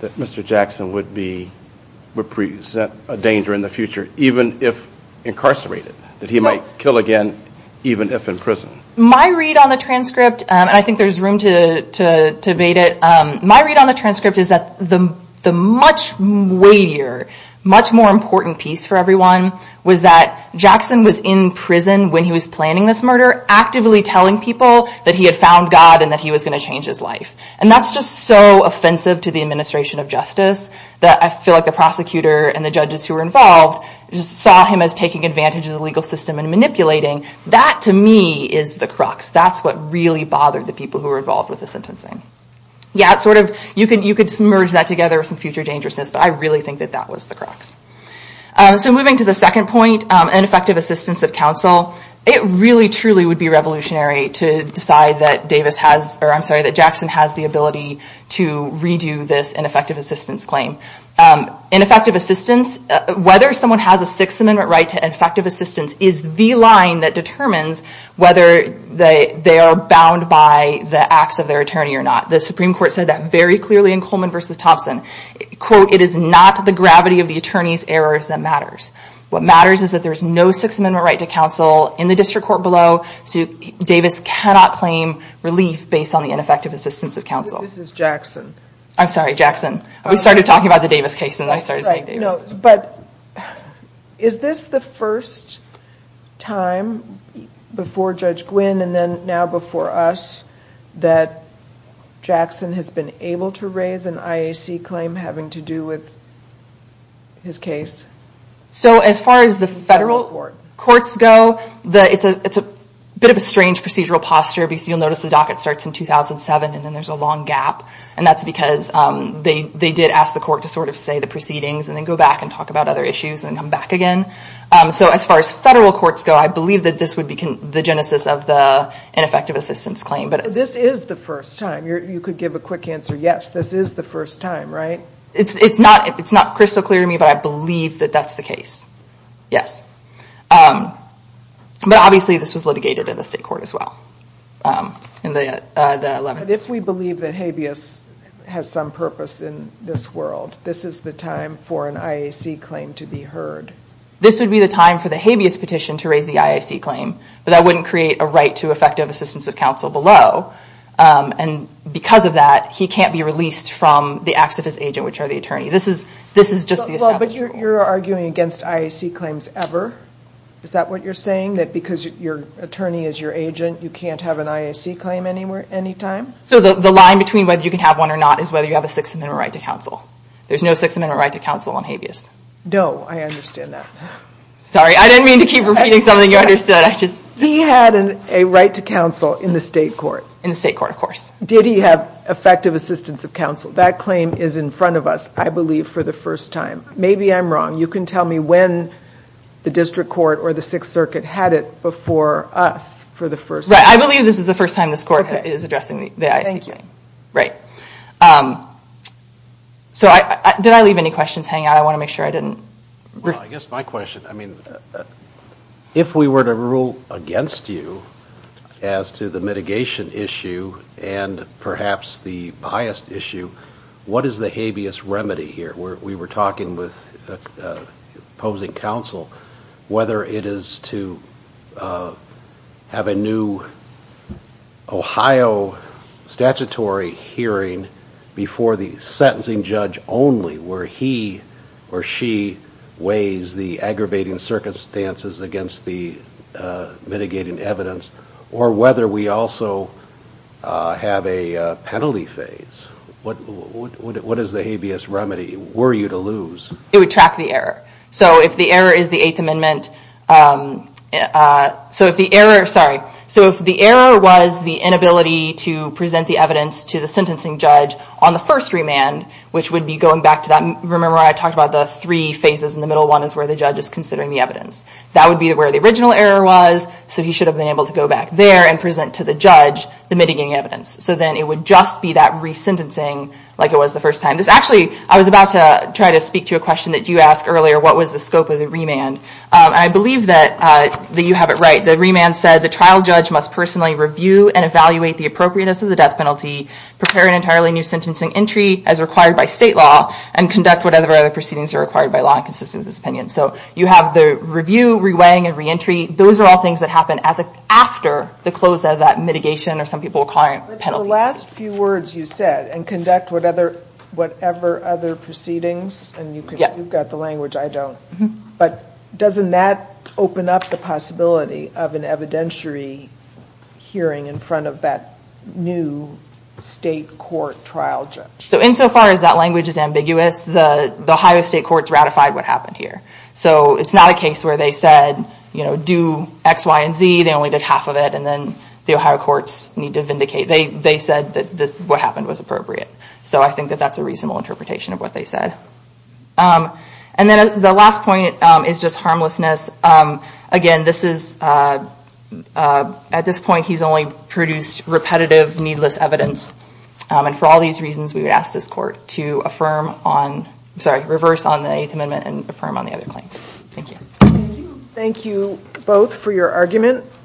that Mr. Jackson would present a danger in the future even if incarcerated, that he might kill again even if in prison. My read on the transcript, and I think there's room to debate it, my read on the transcript is that the much weightier, much more important piece for everyone was that Jackson was in prison when he was planning this murder, actively telling people that he had found God and that he was going to change his life. And that's just so offensive to the administration of justice that I feel like the prosecutor and the judges who were involved saw him as taking advantage of the legal system and manipulating. That, to me, is the crux. That's what really bothered the people who were involved with the sentencing. Yeah, it's sort of, you could merge that together with some future dangerousness, but I really think that that was the crux. So moving to the second point, ineffective assistance of counsel, it really truly would be revolutionary to decide that Davis has, or I'm sorry, that Jackson has the ability to redo this ineffective assistance claim. Ineffective assistance, whether someone has a Sixth Amendment right to ineffective assistance is the line that determines whether they are bound by the acts of their attorney or not. The Supreme Court said that very clearly in Coleman v. Thompson. Quote, it is not the gravity of the attorney's errors that matters. What matters is that there's no Sixth Amendment right to counsel in the district court below. So Davis cannot claim relief based on the ineffective assistance of counsel. I'm sorry, Jackson. We started talking about the Davis case and then I started saying Davis. Right, no, but is this the first time before Judge Gwynn and then now before us that Jackson has been able to raise an IAC claim having to do with his case? So as far as the federal courts go, it's a bit of a strange procedural posture because you'll notice the docket starts in 2007 and then there's a long gap and that's because they did ask the court to sort of say the proceedings and then go back and talk about other issues and come back again. So as far as federal courts go, I believe that this would be the genesis of the ineffective assistance claim. But this is the first time. You could give a quick answer. Yes, this is the first time, right? It's not crystal clear to me, but I believe that that's the case. Yes. But obviously this was litigated in the state court as well. But if we believe that habeas has some purpose in this world, this is the time for an IAC claim to be heard. This would be the time for the habeas petition to raise the IAC claim, but that wouldn't create a right to effective assistance of counsel below. And because of that, he can't be released from the acts of his agent, which are the attorney. This is just the establishment. But you're arguing against IAC claims ever? Is that what you're saying? That because your attorney is your agent, you can't have an IAC claim any time? So the line between whether you can have one or not is whether you have a Sixth Amendment right to counsel. There's no Sixth Amendment right to counsel on habeas. No, I understand that. Sorry, I didn't mean to keep repeating something you understood. He had a right to counsel in the state court. In the state court, of course. Did he have effective assistance of counsel? That claim is in front of us, I believe, for the first time. Maybe I'm wrong. You can tell me when the district court or the Sixth Circuit had it before us for the first time. I believe this is the first time this court is addressing the IAC claim. Thank you. Did I leave any questions hanging out? I want to make sure I didn't. Well, I guess my question, I mean, if we were to rule against you as to the mitigation issue and perhaps the biased issue, what is the habeas remedy here? We were talking with opposing counsel whether it is to have a new Ohio statutory hearing before the sentencing judge only where he or she weighs the aggravating circumstances against the mitigating evidence or whether we also have a penalty phase. What is the habeas remedy? Were you to lose? It would track the error. So if the error is the Eighth Amendment, so if the error, sorry, so if the error was the inability to present the evidence to the sentencing judge on the first remand, which would be going back to that, remember I talked about the three phases and the middle one is where the judge is considering the evidence. That would be where the original error was, so he should have been able to go back there and present to the judge the mitigating evidence. So then it would just be that resentencing like it was the first time. Actually, I was about to try to speak to a question that you asked earlier. What was the scope of the remand? And I believe that you have it right. The remand said the trial judge must personally review and evaluate the appropriateness of the death penalty, prepare an entirely new sentencing entry as required by state law, and conduct whatever other proceedings are required by law and consistent with this opinion. So you have the review, and re-entry. Those are all things that happen after the close of that mitigation or some people call it penalty. But the last few words you said and conduct whatever other proceedings, and you've got the language, I don't. But doesn't that open up the possibility of an evidentiary hearing in front of that new state court trial judge? So insofar as that language is ambiguous, the Ohio State Courts ratified what happened here. So it's not a case where they said do X, Y, and Z. They only did half of it and then the Ohio Courts need to vindicate. They said that what happened was appropriate. So I think that that's a reasonable interpretation of what they said. And then the last point is just harmlessness. Again, this is, at this point, he's only produced repetitive, needless evidence. And for all these reasons, we would ask this court to affirm on, sorry, reverse on the Eighth Amendment and affirm on the other claims. Thank you. Thank you both for your argument.